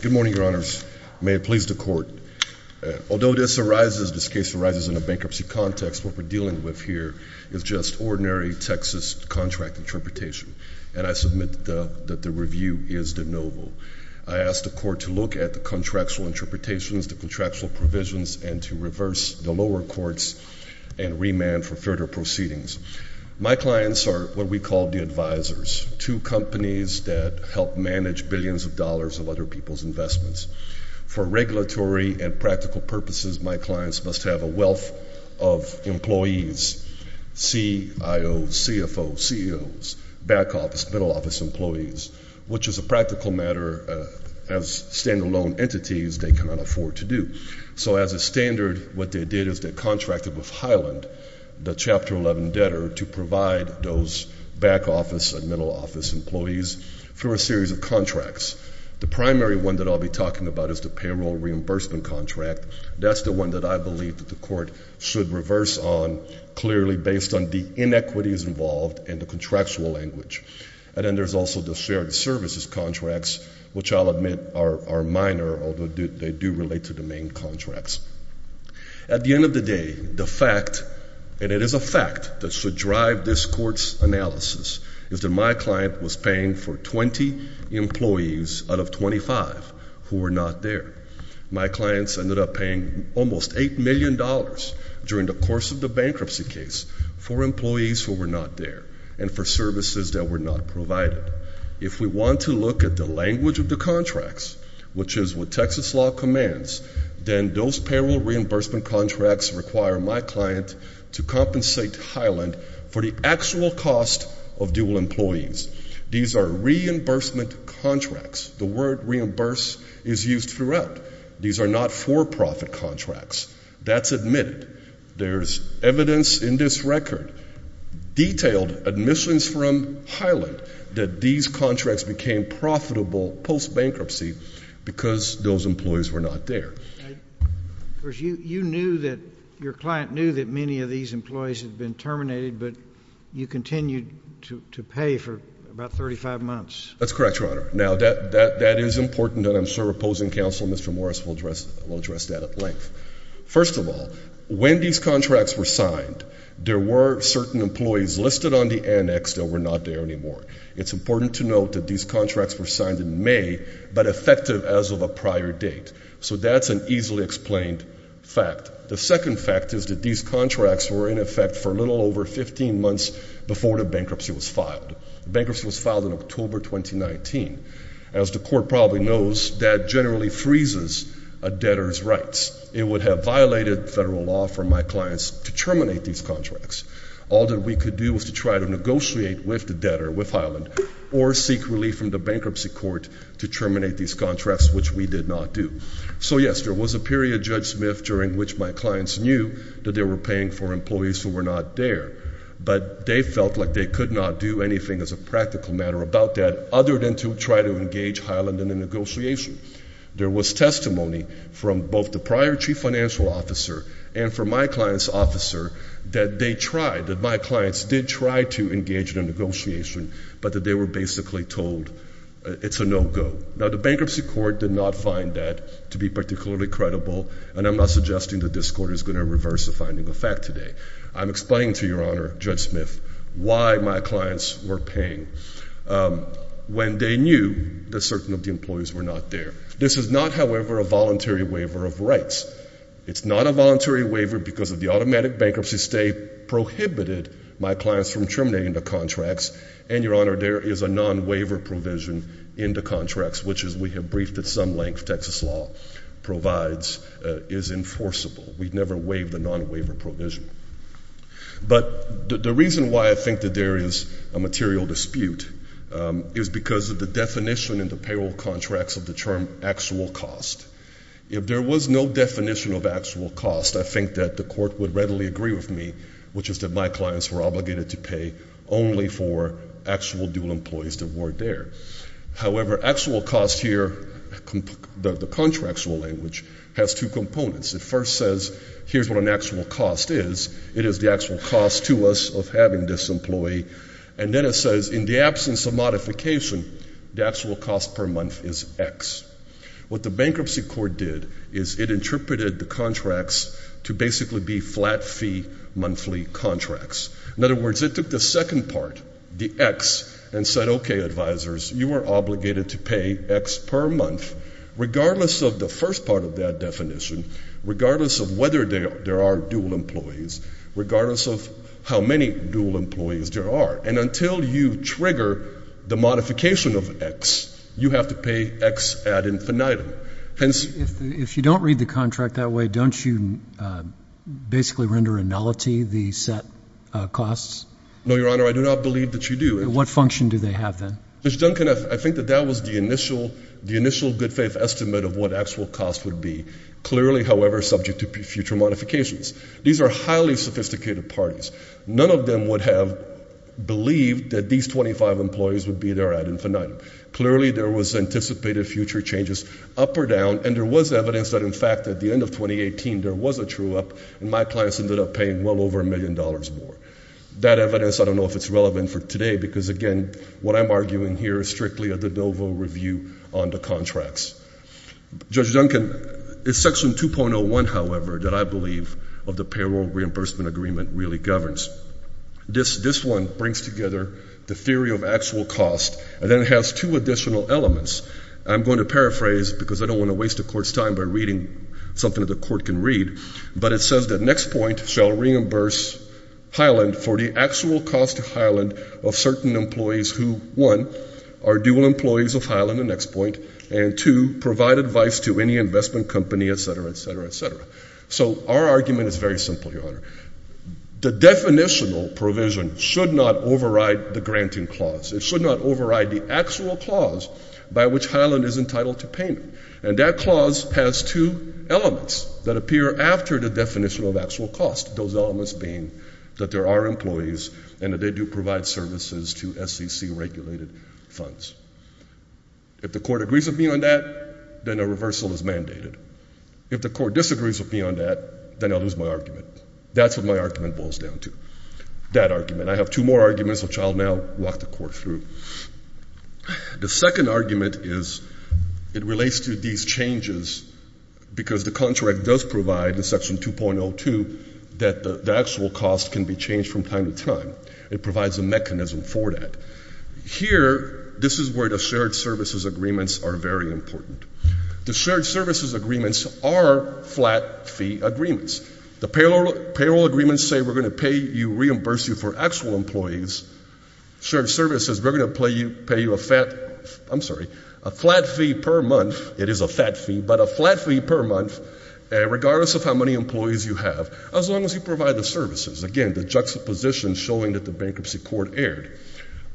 Good morning, Your Honors. May it please the Court. Although this case arises in a bankruptcy context, what we're dealing with here is just ordinary Texas contract interpretation. And I submit that the review is de novo. I ask the Court to look at the contractual interpretations, the contractual provisions, and to reverse the lower courts and remand for further proceedings. My clients are what we call the advisors, two companies that help manage billions of dollars of other people's investments. For regulatory and practical purposes, my clients must have a wealth of employees, CIOs, CFOs, CEOs, back office, middle office employees, which as a practical matter, as standalone entities, they cannot afford to do. So as a standard, what they did is they contracted with Highland, the Chapter 11 debtor, to provide those back office and middle office employees for a series of contracts. The primary one that I'll be talking about is the payroll reimbursement contract. That's the one that I believe that the Court should reverse on clearly based on the inequities involved and the contractual language. And then there's also the shared services contracts, which I'll admit are minor, although they do relate to the main contracts. At the end of the day, the fact, and it is a fact that should drive this Court's analysis, is that my client was paying for 20 employees out of 25 who were not there. My clients ended up paying almost $8 million during the course of the bankruptcy case for employees who were not there and for services that were not provided. If we want to look at the language of the contracts, which is what Texas law commands, then those payroll reimbursement contracts require my client to compensate Highland for the actual cost of dual employees. These are reimbursement contracts. The word reimburse is used throughout. These are not for-profit contracts. That's admitted. There's evidence in this record, detailed admissions from Highland, that these contracts became profitable post-bankruptcy because those employees were not there. You knew that your client knew that many of these employees had been terminated, but you continued to pay for about 35 months. That's correct, Your Honor. Now, that is important, and I'm sure opposing counsel, Mr. Morris, will address that at length. First of all, when these contracts were signed, there were certain employees listed on the annex that were not there anymore. It's important to note that these contracts were signed in May, but effective as of a prior date. So that's an easily explained fact. The second fact is that these contracts were in effect for a little over 15 months before the bankruptcy was filed. The bankruptcy was filed in October 2019. As the court probably knows, that generally freezes a debtor's rights. It would have violated federal law for my clients to terminate these contracts. All that we could do was to try to negotiate with the debtor, with Highland, or seek relief from the bankruptcy court to terminate these contracts, which we did not do. So yes, there was a period, Judge Smith, during which my clients knew that they were paying for employees who were not there. But they felt like they could not do anything as a practical matter about that other than to try to engage Highland in the negotiation. There was testimony from both the prior chief financial officer and from my client's officer that they tried, that my clients did try to engage in a negotiation, but that they were basically told it's a no-go. Now, the bankruptcy court did not find that to be particularly credible, and I'm not suggesting that this court is going to reverse the finding of fact today. I'm explaining to Your Honor, Judge Smith, why my clients were paying when they knew that certain of the employees were not there. This is not, however, a voluntary waiver of rights. It's not a voluntary waiver because of the automatic bankruptcy state prohibited my clients from terminating the contracts. And, Your Honor, there is a non-waiver provision in the contracts, which, as we have briefed at some length, Texas law provides, is enforceable. We've never waived a non-waiver provision. But the reason why I think that there is a material dispute is because of the definition in the payroll contracts of the term actual cost. If there was no definition of actual cost, I think that the court would readily agree with me, which is that my clients were obligated to pay only for actual dual employees that weren't there. However, actual cost here, the contractual language, has two components. It first says here's what an actual cost is. It is the actual cost to us of having this employee. And then it says in the absence of modification, the actual cost per month is X. What the bankruptcy court did is it interpreted the contracts to basically be flat fee monthly contracts. In other words, it took the second part, the X, and said, okay, advisors, you are obligated to pay X per month, regardless of the first part of that definition, regardless of whether there are dual employees, regardless of how many dual employees there are. And until you trigger the modification of X, you have to pay X ad infinitum. If you don't read the contract that way, don't you basically render a nullity the set costs? No, Your Honor. I do not believe that you do. What function do they have then? Judge Duncan, I think that that was the initial good faith estimate of what actual cost would be, clearly, however, subject to future modifications. These are highly sophisticated parties. None of them would have believed that these 25 employees would be there ad infinitum. Clearly, there was anticipated future changes up or down, and there was evidence that, in fact, at the end of 2018, there was a true up, and my clients ended up paying well over $1 million more. That evidence, I don't know if it's relevant for today, because, again, what I'm arguing here is strictly a de novo review on the contracts. Judge Duncan, it's Section 2.01, however, that I believe of the payroll reimbursement agreement really governs. This one brings together the theory of actual cost, and then it has two additional elements. I'm going to paraphrase because I don't want to waste the Court's time by reading something that the Court can read, but it says the next point shall reimburse Highland for the actual cost to Highland of certain employees who, one, are dual employees of Highland, the next point, and, two, provide advice to any investment company, etc., etc., etc. So our argument is very simple, Your Honor. The definitional provision should not override the granting clause. It should not override the actual clause by which Highland is entitled to payment, and that clause has two elements that appear after the definition of actual cost, those elements being that there are employees and that they do provide services to SEC-regulated funds. If the Court agrees with me on that, then a reversal is mandated. If the Court disagrees with me on that, then I'll lose my argument. That's what my argument boils down to, that argument. I have two more arguments, which I'll now walk the Court through. The second argument is it relates to these changes because the contract does provide, in Section 2.02, that the actual cost can be changed from time to time. It provides a mechanism for that. Here, this is where the shared services agreements are very important. The shared services agreements are flat fee agreements. The payroll agreements say we're going to pay you, reimburse you for actual employees. Shared services, we're going to pay you a flat fee per month. It is a fat fee, but a flat fee per month, regardless of how many employees you have, as long as you provide the services. Again, the juxtaposition showing that the bankruptcy court erred.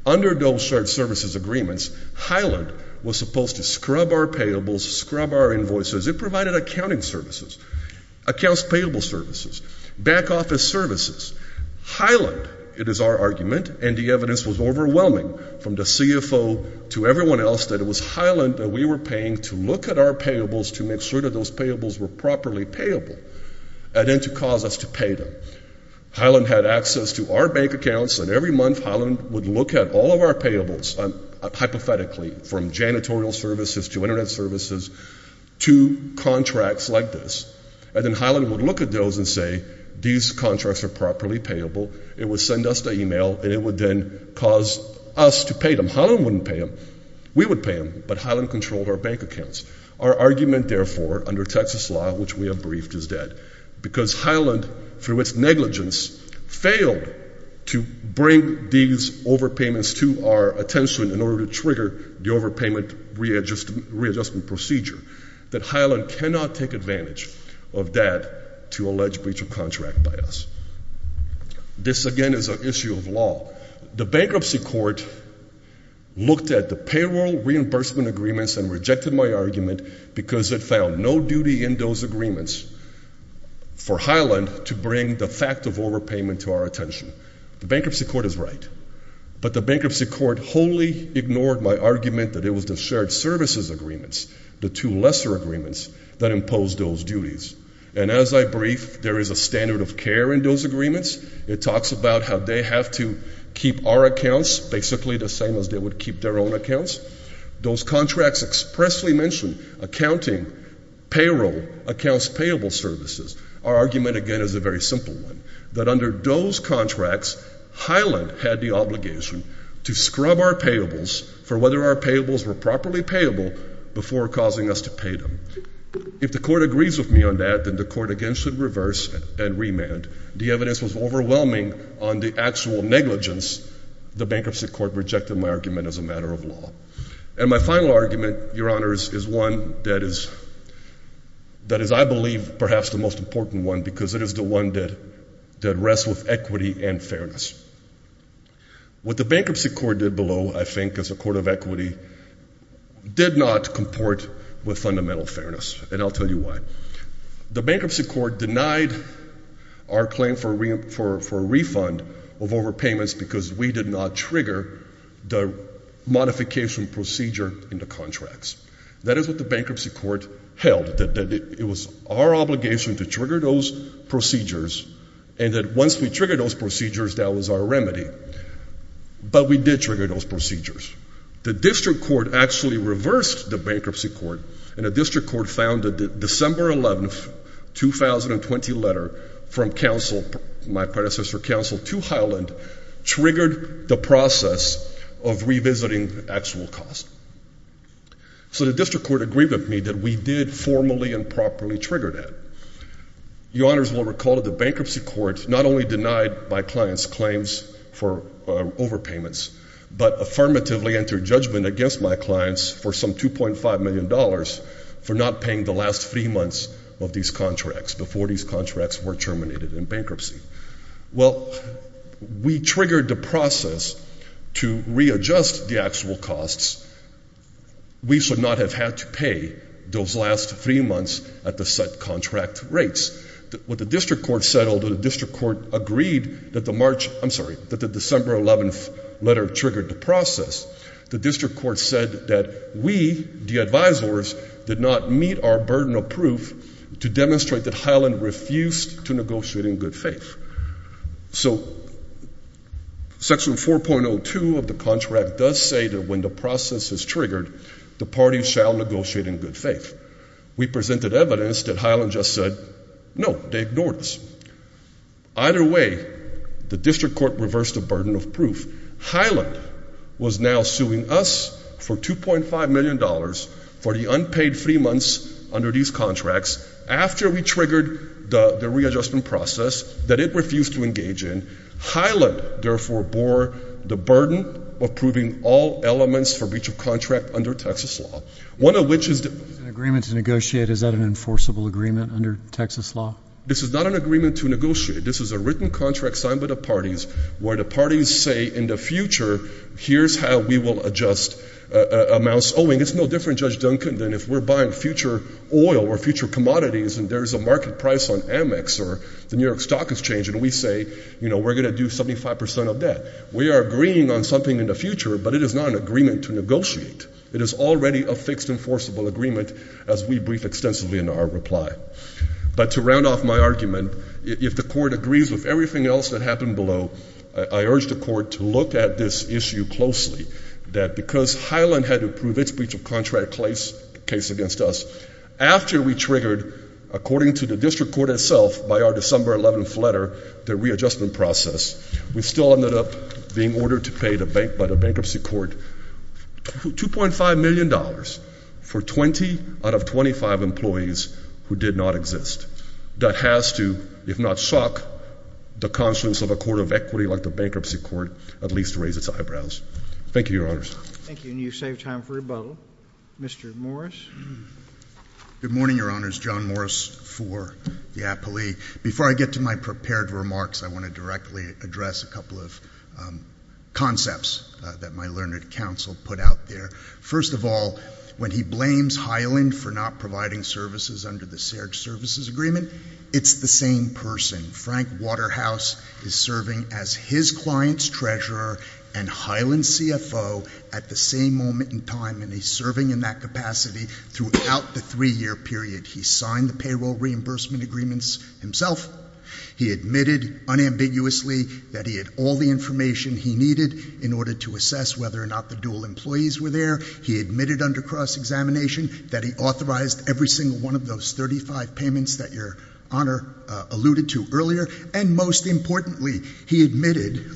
Under those shared services agreements, Highland was supposed to scrub our payables, scrub our invoices. It provided accounting services, accounts payable services, back office services. Highland, it is our argument, and the evidence was overwhelming from the CFO to everyone else, that it was Highland that we were paying to look at our payables to make sure that those payables were properly payable, and then to cause us to pay them. Highland had access to our bank accounts, and every month Highland would look at all of our payables, hypothetically, from janitorial services to Internet services to contracts like this. And then Highland would look at those and say, these contracts are properly payable. It would send us the email, and it would then cause us to pay them. Highland wouldn't pay them. We would pay them, but Highland controlled our bank accounts. Our argument, therefore, under Texas law, which we have briefed, is dead, because Highland, through its negligence, failed to bring these overpayments to our attention in order to trigger the overpayment readjustment procedure. That Highland cannot take advantage of that to allege breach of contract by us. This, again, is an issue of law. The bankruptcy court looked at the payroll reimbursement agreements and rejected my argument because it found no duty in those agreements for Highland to bring the fact of overpayment to our attention. The bankruptcy court is right, but the bankruptcy court wholly ignored my argument that it was the shared services agreements, the two lesser agreements, that imposed those duties. And as I brief, there is a standard of care in those agreements. It talks about how they have to keep our accounts basically the same as they would keep their own accounts. Those contracts expressly mention accounting, payroll, accounts payable services. Our argument, again, is a very simple one, that under those contracts, Highland had the obligation to scrub our payables for whether our payables were properly payable before causing us to pay them. If the court agrees with me on that, then the court, again, should reverse and remand. The evidence was overwhelming on the actual negligence. The bankruptcy court rejected my argument as a matter of law. And my final argument, Your Honors, is one that is, I believe, perhaps the most important one because it is the one that rests with equity and fairness. What the bankruptcy court did below, I think, as a court of equity, did not comport with fundamental fairness, and I'll tell you why. The bankruptcy court denied our claim for a refund of overpayments because we did not trigger the modification procedure in the contracts. That is what the bankruptcy court held, that it was our obligation to trigger those procedures and that once we triggered those procedures, that was our remedy. But we did trigger those procedures. The district court actually reversed the bankruptcy court, and the district court found that the December 11, 2020 letter from counsel, my predecessor counsel, to Highland triggered the process of revisiting the actual cost. So the district court agreed with me that we did formally and properly trigger that. Your Honors will recall that the bankruptcy court not only denied my client's claims for overpayments, but affirmatively entered judgment against my clients for some $2.5 million for not paying the last three months of these contracts before these contracts were terminated in bankruptcy. Well, we triggered the process to readjust the actual costs. We should not have had to pay those last three months at the set contract rates. What the district court said, although the district court agreed that the March, I'm sorry, that the December 11 letter triggered the process, the district court said that we, the advisors, did not meet our burden of proof to demonstrate that Highland refused to negotiate in good faith. So Section 4.02 of the contract does say that when the process is triggered, the parties shall negotiate in good faith. We presented evidence that Highland just said, no, they ignored us. Either way, the district court reversed the burden of proof. Highland was now suing us for $2.5 million for the unpaid three months under these contracts after we triggered the readjustment process that it refused to engage in. Highland, therefore, bore the burden of proving all elements for breach of contract under Texas law, one of which is the— An agreement to negotiate, is that an enforceable agreement under Texas law? This is not an agreement to negotiate. This is a written contract signed by the parties where the parties say in the future, here's how we will adjust amounts owing. It's no different, Judge Duncan, than if we're buying future oil or future commodities and there's a market price on Amex or the New York Stock Exchange, and we say, you know, we're going to do 75% of that. We are agreeing on something in the future, but it is not an agreement to negotiate. It is already a fixed enforceable agreement as we brief extensively in our reply. But to round off my argument, if the court agrees with everything else that happened below, I urge the court to look at this issue closely, that because Highland had to prove its breach of contract case against us, after we triggered, according to the district court itself, by our December 11th letter, the readjustment process, we still ended up being ordered to pay by the bankruptcy court $2.5 million for 20 out of 25 employees who did not exist. That has to, if not shock the conscience of a court of equity like the bankruptcy court, at least raise its eyebrows. Thank you, Your Honors. Thank you. And you've saved time for rebuttal. Mr. Morris. Good morning, Your Honors. John Morris for the appellee. Before I get to my prepared remarks, I want to directly address a couple of concepts that my learned counsel put out there. First of all, when he blames Highland for not providing services under the serged services agreement, it's the same person. Frank Waterhouse is serving as his client's treasurer and Highland's CFO at the same moment in time, and he's serving in that capacity throughout the three-year period. He signed the payroll reimbursement agreements himself. He admitted unambiguously that he had all the information he needed in order to assess whether or not the dual employees were there. He admitted under cross-examination that he authorized every single one of those 35 payments that Your Honor alluded to earlier. And most importantly, he admitted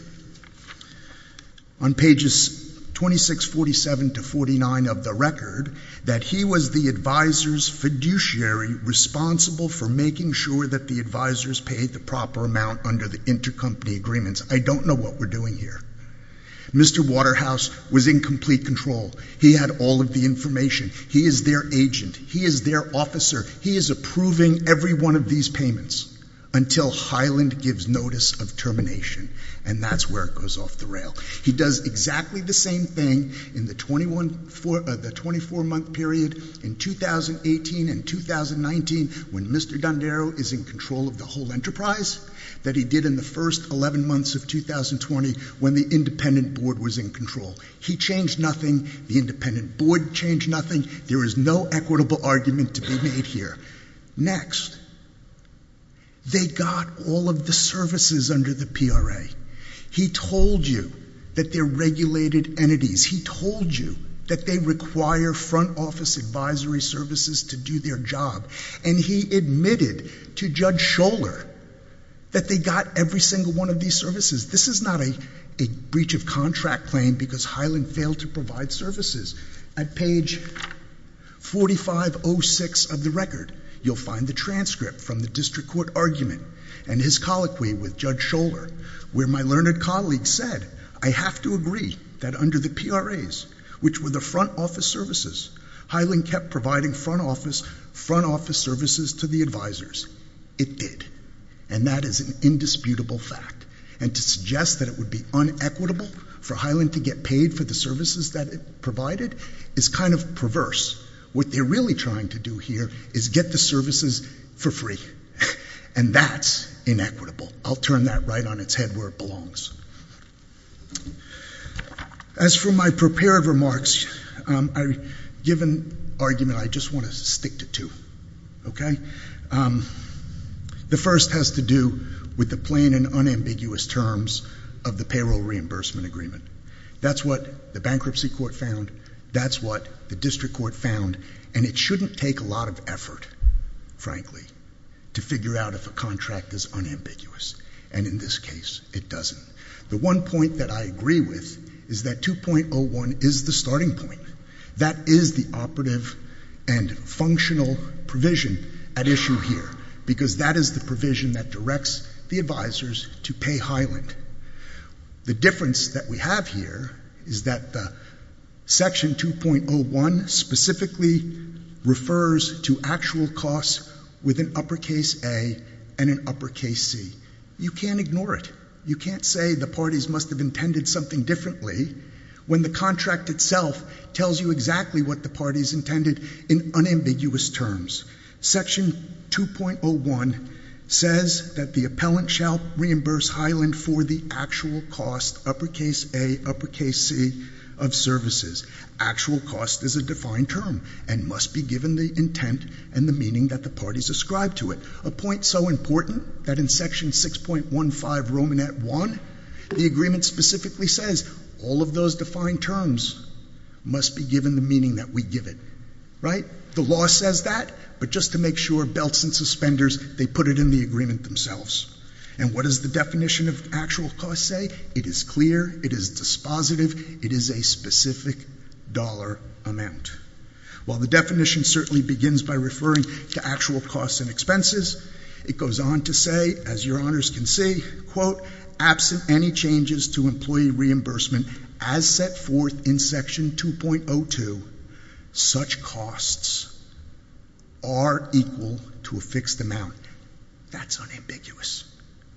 on pages 2647 to 49 of the record that he was the advisor's fiduciary responsible for making sure that the advisors paid the proper amount under the intercompany agreements. I don't know what we're doing here. Mr. Waterhouse was in complete control. He had all of the information. He is their agent. He is their officer. He is approving every one of these payments until Highland gives notice of termination, and that's where it goes off the rail. He does exactly the same thing in the 24-month period in 2018 and 2019 when Mr. Dondero is in control of the whole enterprise that he did in the first 11 months of 2020 when the independent board was in control. He changed nothing. The independent board changed nothing. There is no equitable argument to be made here. Next, they got all of the services under the PRA. He told you that they're regulated entities. He told you that they require front office advisory services to do their job, and he admitted to Judge Scholar that they got every single one of these services. This is not a breach of contract claim because Highland failed to provide services. At page 4506 of the record, you'll find the transcript from the district court argument and his colloquy with Judge Scholar where my learned colleague said, I have to agree that under the PRAs, which were the front office services, Highland kept providing front office services to the advisors. It did, and that is an indisputable fact. And to suggest that it would be unequitable for Highland to get paid for the services that it provided is kind of perverse. What they're really trying to do here is get the services for free, and that's inequitable. I'll turn that right on its head where it belongs. As for my prepared remarks, I've given argument I just want to stick to two. The first has to do with the plain and unambiguous terms of the payroll reimbursement agreement. That's what the bankruptcy court found. That's what the district court found, and it shouldn't take a lot of effort, frankly, to figure out if a contract is unambiguous, and in this case, it doesn't. The one point that I agree with is that 2.01 is the starting point. That is the operative and functional provision at issue here, because that is the provision that directs the advisors to pay Highland. The difference that we have here is that Section 2.01 specifically refers to actual costs with an uppercase A and an uppercase C. You can't ignore it. You can't say the parties must have intended something differently when the contract itself tells you exactly what the parties intended in unambiguous terms. Section 2.01 says that the appellant shall reimburse Highland for the actual cost, uppercase A, uppercase C, of services. Actual cost is a defined term and must be given the intent and the meaning that the parties ascribe to it. A point so important that in Section 6.15 Romanet I, the agreement specifically says all of those defined terms must be given the meaning that we give it. The law says that, but just to make sure, belts and suspenders, they put it in the agreement themselves. And what does the definition of actual cost say? It is clear. It is dispositive. It is a specific dollar amount. While the definition certainly begins by referring to actual costs and expenses, it goes on to say, as your honors can see, quote, absent any changes to employee reimbursement as set forth in Section 2.02, such costs are equal to a fixed amount. That's unambiguous.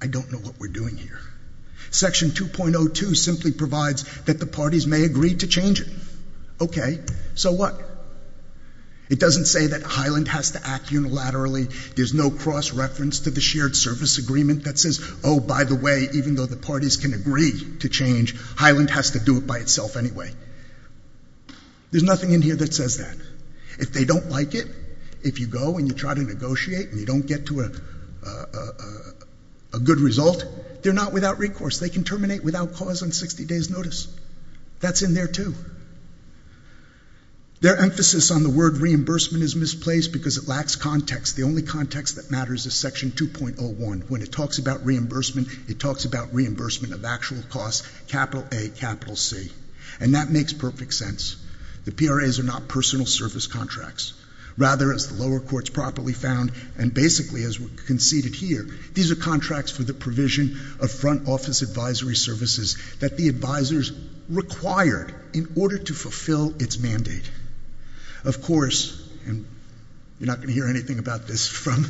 I don't know what we're doing here. Section 2.02 simply provides that the parties may agree to change it. Okay. So what? It doesn't say that Highland has to act unilaterally. There's no cross-reference to the shared service agreement that says, oh, by the way, even though the parties can agree to change, Highland has to do it by itself anyway. There's nothing in here that says that. If they don't like it, if you go and you try to negotiate and you don't get to a good result, they're not without recourse. They can terminate without cause on 60 days' notice. That's in there, too. Their emphasis on the word reimbursement is misplaced because it lacks context. The only context that matters is Section 2.01. When it talks about reimbursement, it talks about reimbursement of actual costs, capital A, capital C. And that makes perfect sense. The PRAs are not personal service contracts. Rather, as the lower courts properly found and basically as conceded here, these are contracts for the provision of front office advisory services that the advisors required in order to fulfill its mandate. Of course, and you're not going to hear anything about this from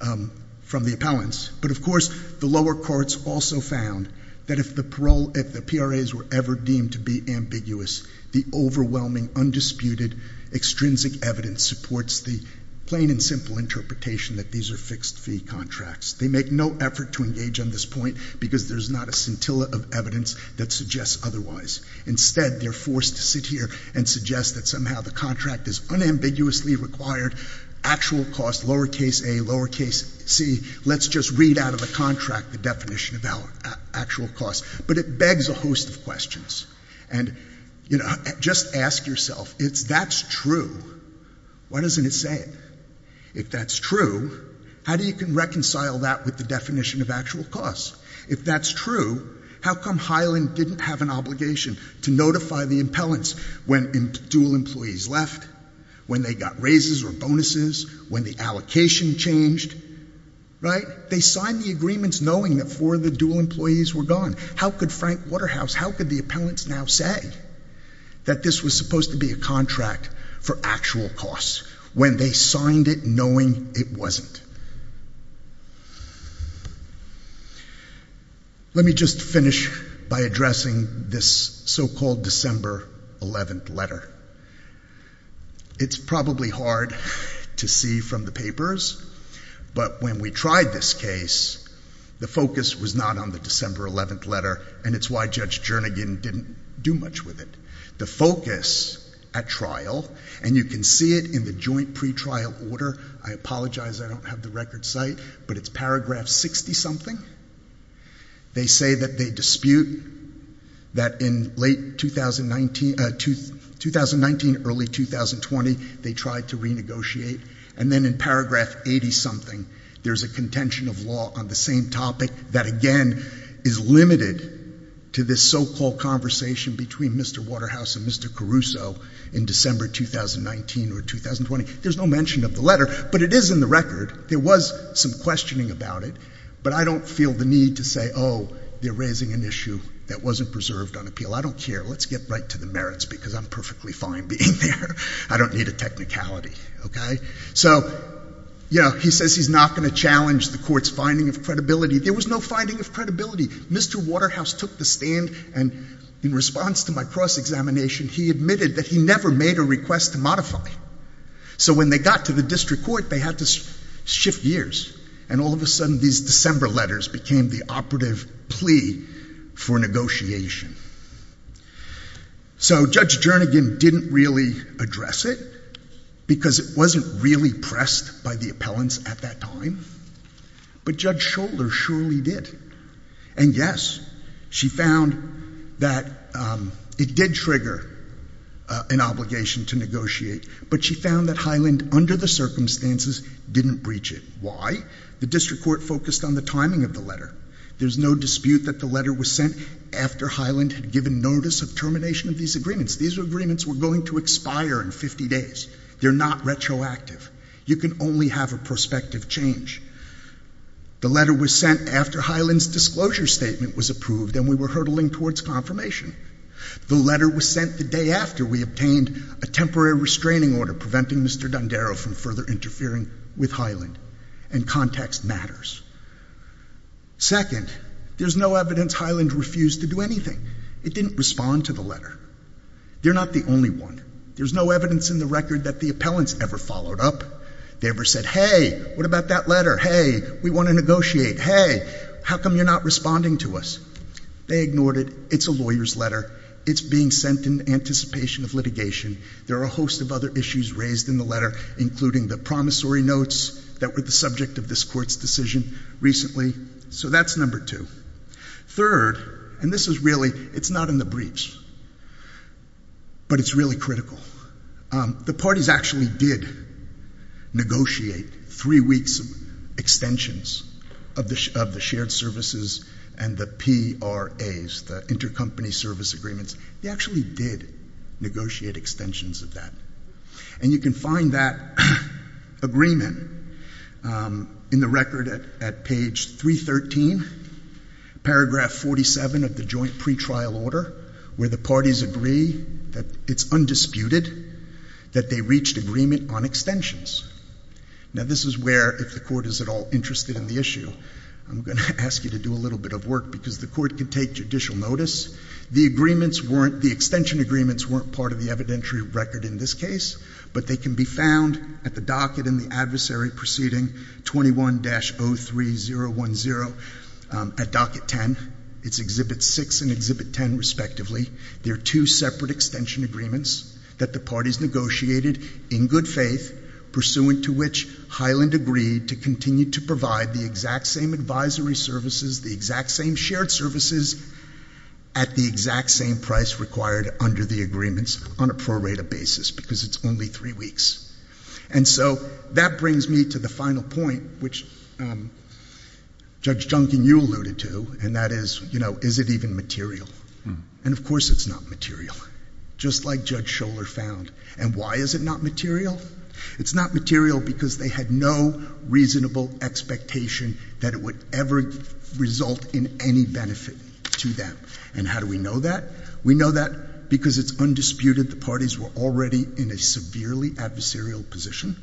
the appellants, but of course the lower courts also found that if the PRAs were ever deemed to be ambiguous, the overwhelming, undisputed, extrinsic evidence supports the plain and simple interpretation that these are fixed-fee contracts. They make no effort to engage on this point because there's not a scintilla of evidence that suggests otherwise. Instead, they're forced to sit here and suggest that somehow the contract is unambiguously required, actual costs, lower case A, lower case C. Let's just read out of the contract the definition of actual costs. But it begs a host of questions. And, you know, just ask yourself, if that's true, why doesn't it say it? If that's true, how do you reconcile that with the definition of actual costs? If that's true, how come Hyland didn't have an obligation to notify the appellants when dual employees left, when they got raises or bonuses, when the allocation changed, right? They signed the agreements knowing that four of the dual employees were gone. How could Frank Waterhouse, how could the appellants now say that this was supposed to be a contract for actual costs when they signed it knowing it wasn't? Let me just finish by addressing this so-called December 11th letter. It's probably hard to see from the papers, but when we tried this case, the focus was not on the December 11th letter, and it's why Judge Jernigan didn't do much with it. The focus at trial, and you can see it in the joint pretrial order. I apologize I don't have the record site, but it's paragraph 60-something. They say that they dispute that in late 2019, early 2020, they tried to renegotiate. And then in paragraph 80-something, there's a contention of law on the same topic that, again, is limited to this so-called conversation between Mr. Waterhouse and Mr. Caruso in December 2019 or 2020. There's no mention of the letter, but it is in the record. There was some questioning about it, but I don't feel the need to say, oh, they're raising an issue that wasn't preserved on appeal. I don't care. Let's get right to the merits because I'm perfectly fine being there. I don't need a technicality, okay? So, you know, he says he's not going to challenge the court's finding of credibility. There was no finding of credibility. Mr. Waterhouse took the stand, and in response to my cross-examination, he admitted that he never made a request to modify. So when they got to the district court, they had to shift gears. And all of a sudden, these December letters became the operative plea for negotiation. So Judge Jernigan didn't really address it because it wasn't really pressed by the appellants at that time. But Judge Schouler surely did. And, yes, she found that it did trigger an obligation to negotiate, but she found that Highland, under the circumstances, didn't breach it. Why? The district court focused on the timing of the letter. There's no dispute that the letter was sent after Highland had given notice of termination of these agreements. These agreements were going to expire in 50 days. They're not retroactive. You can only have a prospective change. The letter was sent after Highland's disclosure statement was approved, and we were hurtling towards confirmation. The letter was sent the day after we obtained a temporary restraining order preventing Mr. Dondero from further interfering with Highland. And context matters. Second, there's no evidence Highland refused to do anything. It didn't respond to the letter. They're not the only one. There's no evidence in the record that the appellants ever followed up. They ever said, hey, what about that letter? Hey, we want to negotiate. Hey, how come you're not responding to us? They ignored it. It's a lawyer's letter. It's being sent in anticipation of litigation. There are a host of other issues raised in the letter, including the promissory notes that were the subject of this court's decision recently. So that's number two. Third, and this is really, it's not in the briefs, but it's really critical. The parties actually did negotiate three weeks of extensions of the shared services and the PRAs, the intercompany service agreements. They actually did negotiate extensions of that. And you can find that agreement in the record at page 313, paragraph 47 of the joint pretrial order, where the parties agree that it's undisputed that they reached agreement on extensions. Now, this is where, if the court is at all interested in the issue, I'm going to ask you to do a little bit of work because the court can take judicial notice. The extension agreements weren't part of the evidentiary record in this case, but they can be found at the docket in the adversary proceeding 21-03010 at docket 10. It's exhibit 6 and exhibit 10, respectively. They're two separate extension agreements that the parties negotiated in good faith, pursuant to which Highland agreed to continue to provide the exact same advisory services, the exact same shared services at the exact same price required under the agreements on a prorated basis because it's only three weeks. And so that brings me to the final point, which Judge Junkin, you alluded to, and that is, you know, is it even material? And of course it's not material, just like Judge Scholar found. And why is it not material? It's not material because they had no reasonable expectation that it would ever result in any benefit to them. And how do we know that? We know that because it's undisputed the parties were already in a severely adversarial position.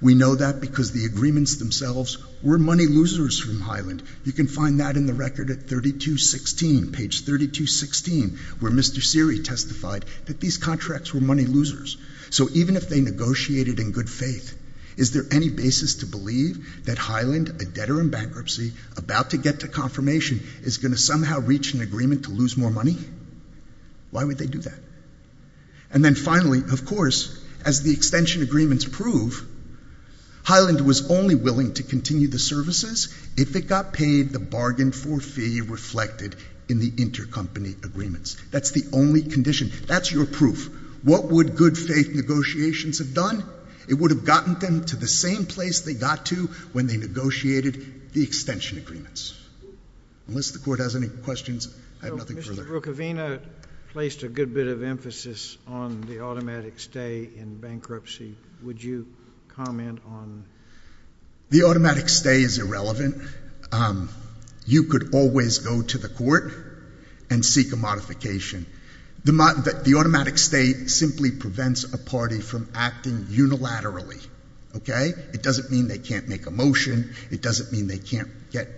We know that because the agreements themselves were money losers from Highland. You can find that in the record at 32-16, page 32-16, where Mr. Seery testified that these contracts were money losers. So even if they negotiated in good faith, is there any basis to believe that Highland, a debtor in bankruptcy, about to get to confirmation is going to somehow reach an agreement to lose more money? Why would they do that? And then finally, of course, as the extension agreements prove, Highland was only willing to continue the services if it got paid the bargain for fee reflected in the intercompany agreements. That's the only condition. That's your proof. What would good faith negotiations have done? It would have gotten them to the same place they got to when they negotiated the extension agreements. Unless the Court has any questions, I have nothing further. Mr. Bruchovina placed a good bit of emphasis on the automatic stay in bankruptcy. Would you comment on that? The automatic stay is irrelevant. You could always go to the Court and seek a modification. The automatic stay simply prevents a party from acting unilaterally, okay? It doesn't mean they can't make a motion. It doesn't mean they can't get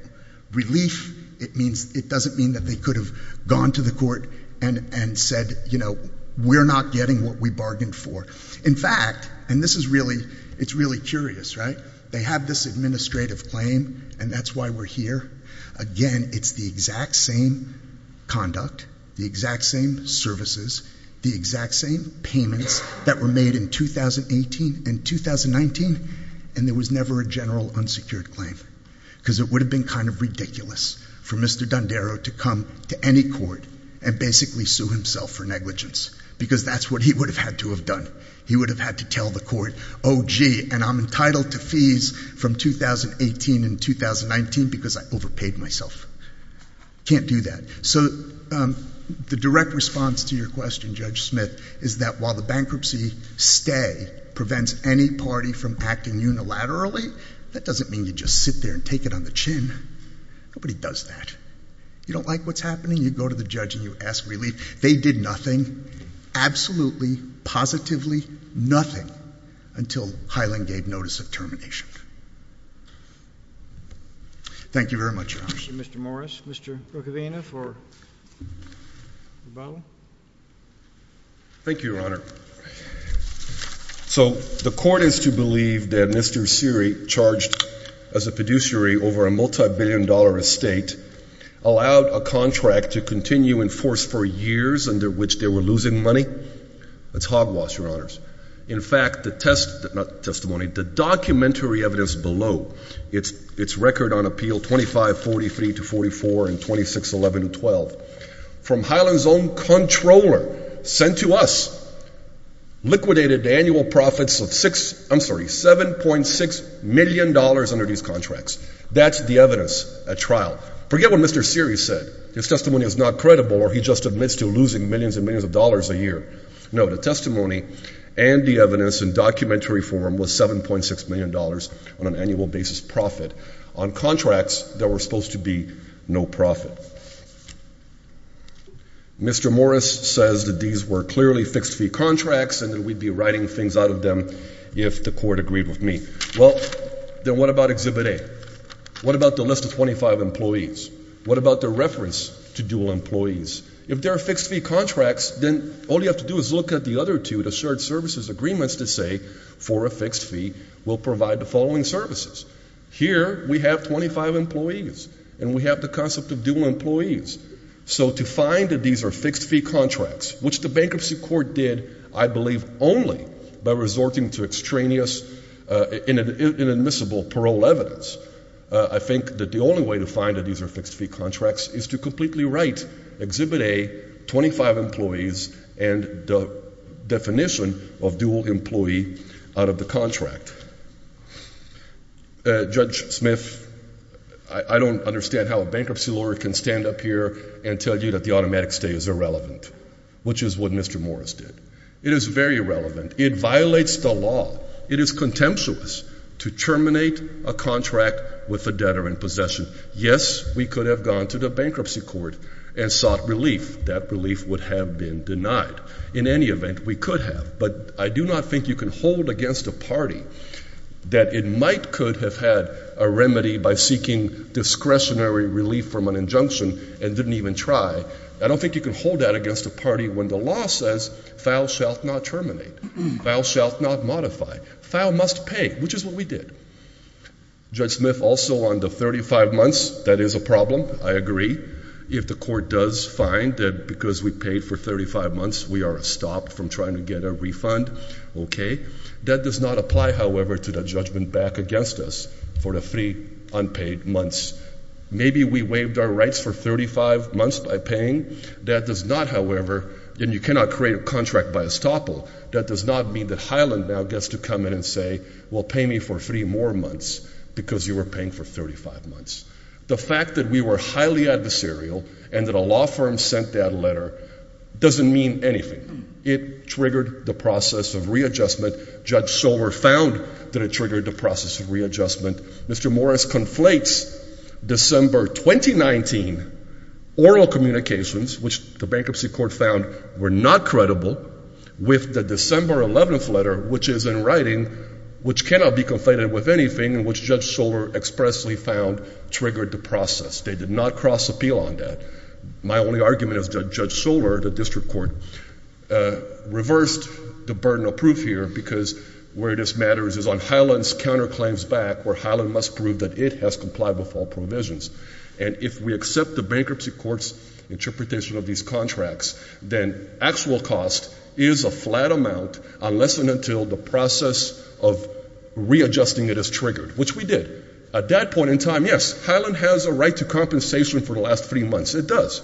relief. It doesn't mean that they could have gone to the Court and said, you know, we're not getting what we bargained for. In fact, and this is really curious, right? They have this administrative claim, and that's why we're here. Again, it's the exact same conduct, the exact same services, the exact same payments that were made in 2018 and 2019, and there was never a general unsecured claim because it would have been kind of ridiculous for Mr. Dondero to come to any court and basically sue himself for negligence because that's what he would have had to have done. He would have had to tell the Court, oh, gee, and I'm entitled to fees from 2018 and 2019 because I overpaid myself. Can't do that. So the direct response to your question, Judge Smith, is that while the bankruptcy stay prevents any party from acting unilaterally, that doesn't mean you just sit there and take it on the chin. Nobody does that. You don't like what's happening? You go to the judge and you ask relief. They did nothing, absolutely, positively nothing until Hyland gave notice of termination. Thank you very much, Your Honor. Thank you, Mr. Morris. Mr. Procovina for rebuttal. Thank you, Your Honor. So the court is to believe that Mr. Seary, charged as a fiduciary over a multibillion-dollar estate, allowed a contract to continue in force for years under which they were losing money? That's hogwash, Your Honors. In fact, the test, not testimony, the documentary evidence below, it's record on appeal 2543 to 44 and 2611 to 12, from Hyland's own controller sent to us, liquidated the annual profits of six, I'm sorry, $7.6 million under these contracts. That's the evidence at trial. Forget what Mr. Seary said. His testimony is not credible or he just admits to losing millions and millions of dollars a year. No, the testimony and the evidence in documentary form was $7.6 million on an annual basis profit. On contracts, there were supposed to be no profit. Mr. Morris says that these were clearly fixed-fee contracts and that we'd be writing things out of them if the court agreed with me. Well, then what about Exhibit A? What about the list of 25 employees? What about their reference to dual employees? If there are fixed-fee contracts, then all you have to do is look at the other two, the shared services agreements that say for a fixed fee we'll provide the following services. Here we have 25 employees and we have the concept of dual employees. So to find that these are fixed-fee contracts, which the bankruptcy court did, I believe, only by resorting to extraneous inadmissible parole evidence, I think that the only way to find that these are fixed-fee contracts is to completely write Exhibit A, 25 employees, and the definition of dual employee out of the contract. Judge Smith, I don't understand how a bankruptcy lawyer can stand up here and tell you that the automatic stay is irrelevant, which is what Mr. Morris did. It is very relevant. It violates the law. It is contemptuous to terminate a contract with a debtor in possession. Yes, we could have gone to the bankruptcy court and sought relief. That relief would have been denied. In any event, we could have. But I do not think you can hold against a party that it might could have had a remedy by seeking discretionary relief from an injunction and didn't even try. I don't think you can hold that against a party when the law says, Thou shalt not terminate. Thou shalt not modify. Thou must pay, which is what we did. Judge Smith, also on the 35 months, that is a problem. I agree. If the court does find that because we paid for 35 months, we are stopped from trying to get a refund, okay. That does not apply, however, to the judgment back against us for the three unpaid months. Maybe we waived our rights for 35 months by paying. That does not, however, and you cannot create a contract by estoppel. That does not mean that Highland now gets to come in and say, Well, pay me for three more months because you were paying for 35 months. The fact that we were highly adversarial and that a law firm sent that letter doesn't mean anything. It triggered the process of readjustment. Judge Sower found that it triggered the process of readjustment. Mr. Morris conflates December 2019 oral communications, which the bankruptcy court found were not credible, with the December 11th letter, which is in writing, which cannot be conflated with anything, and which Judge Sower expressly found triggered the process. They did not cross appeal on that. My only argument is that Judge Sower, the district court, reversed the burden of proof here because where this matters is on Highland's counterclaims back where Highland must prove that it has complied with all provisions. And if we accept the bankruptcy court's interpretation of these contracts, then actual cost is a flat amount unless and until the process of readjusting it is triggered, which we did. At that point in time, yes, Highland has a right to compensation for the last three months. It does.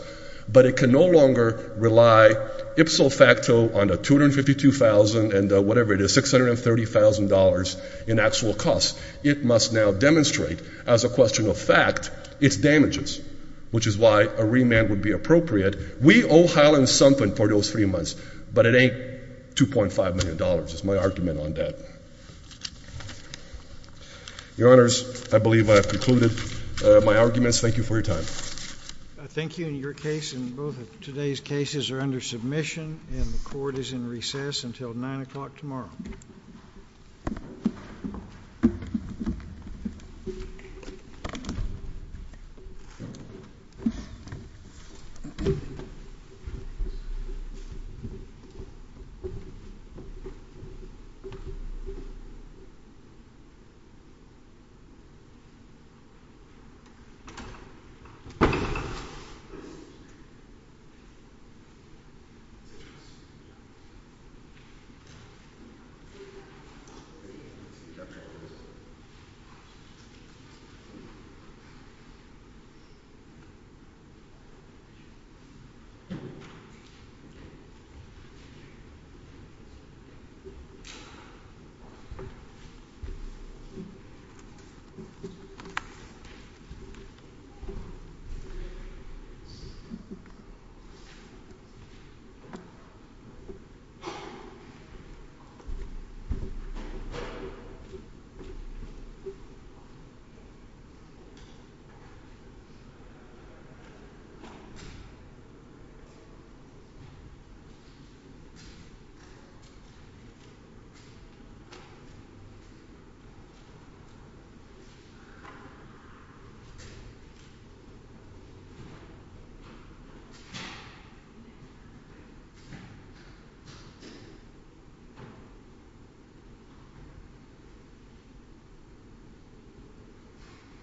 But it can no longer rely ipso facto on the $252,000 and whatever it is, $630,000 in actual costs. It must now demonstrate as a question of fact its damages, which is why a remand would be appropriate. We owe Highland something for those three months, but it ain't $2.5 million. That's my argument on that. Your Honors, I believe I have concluded my arguments. Thank you for your time. I thank you. Your case and both of today's cases are under submission, and the court is in recess until 9 o'clock tomorrow. Thank you. Thank you. Thank you.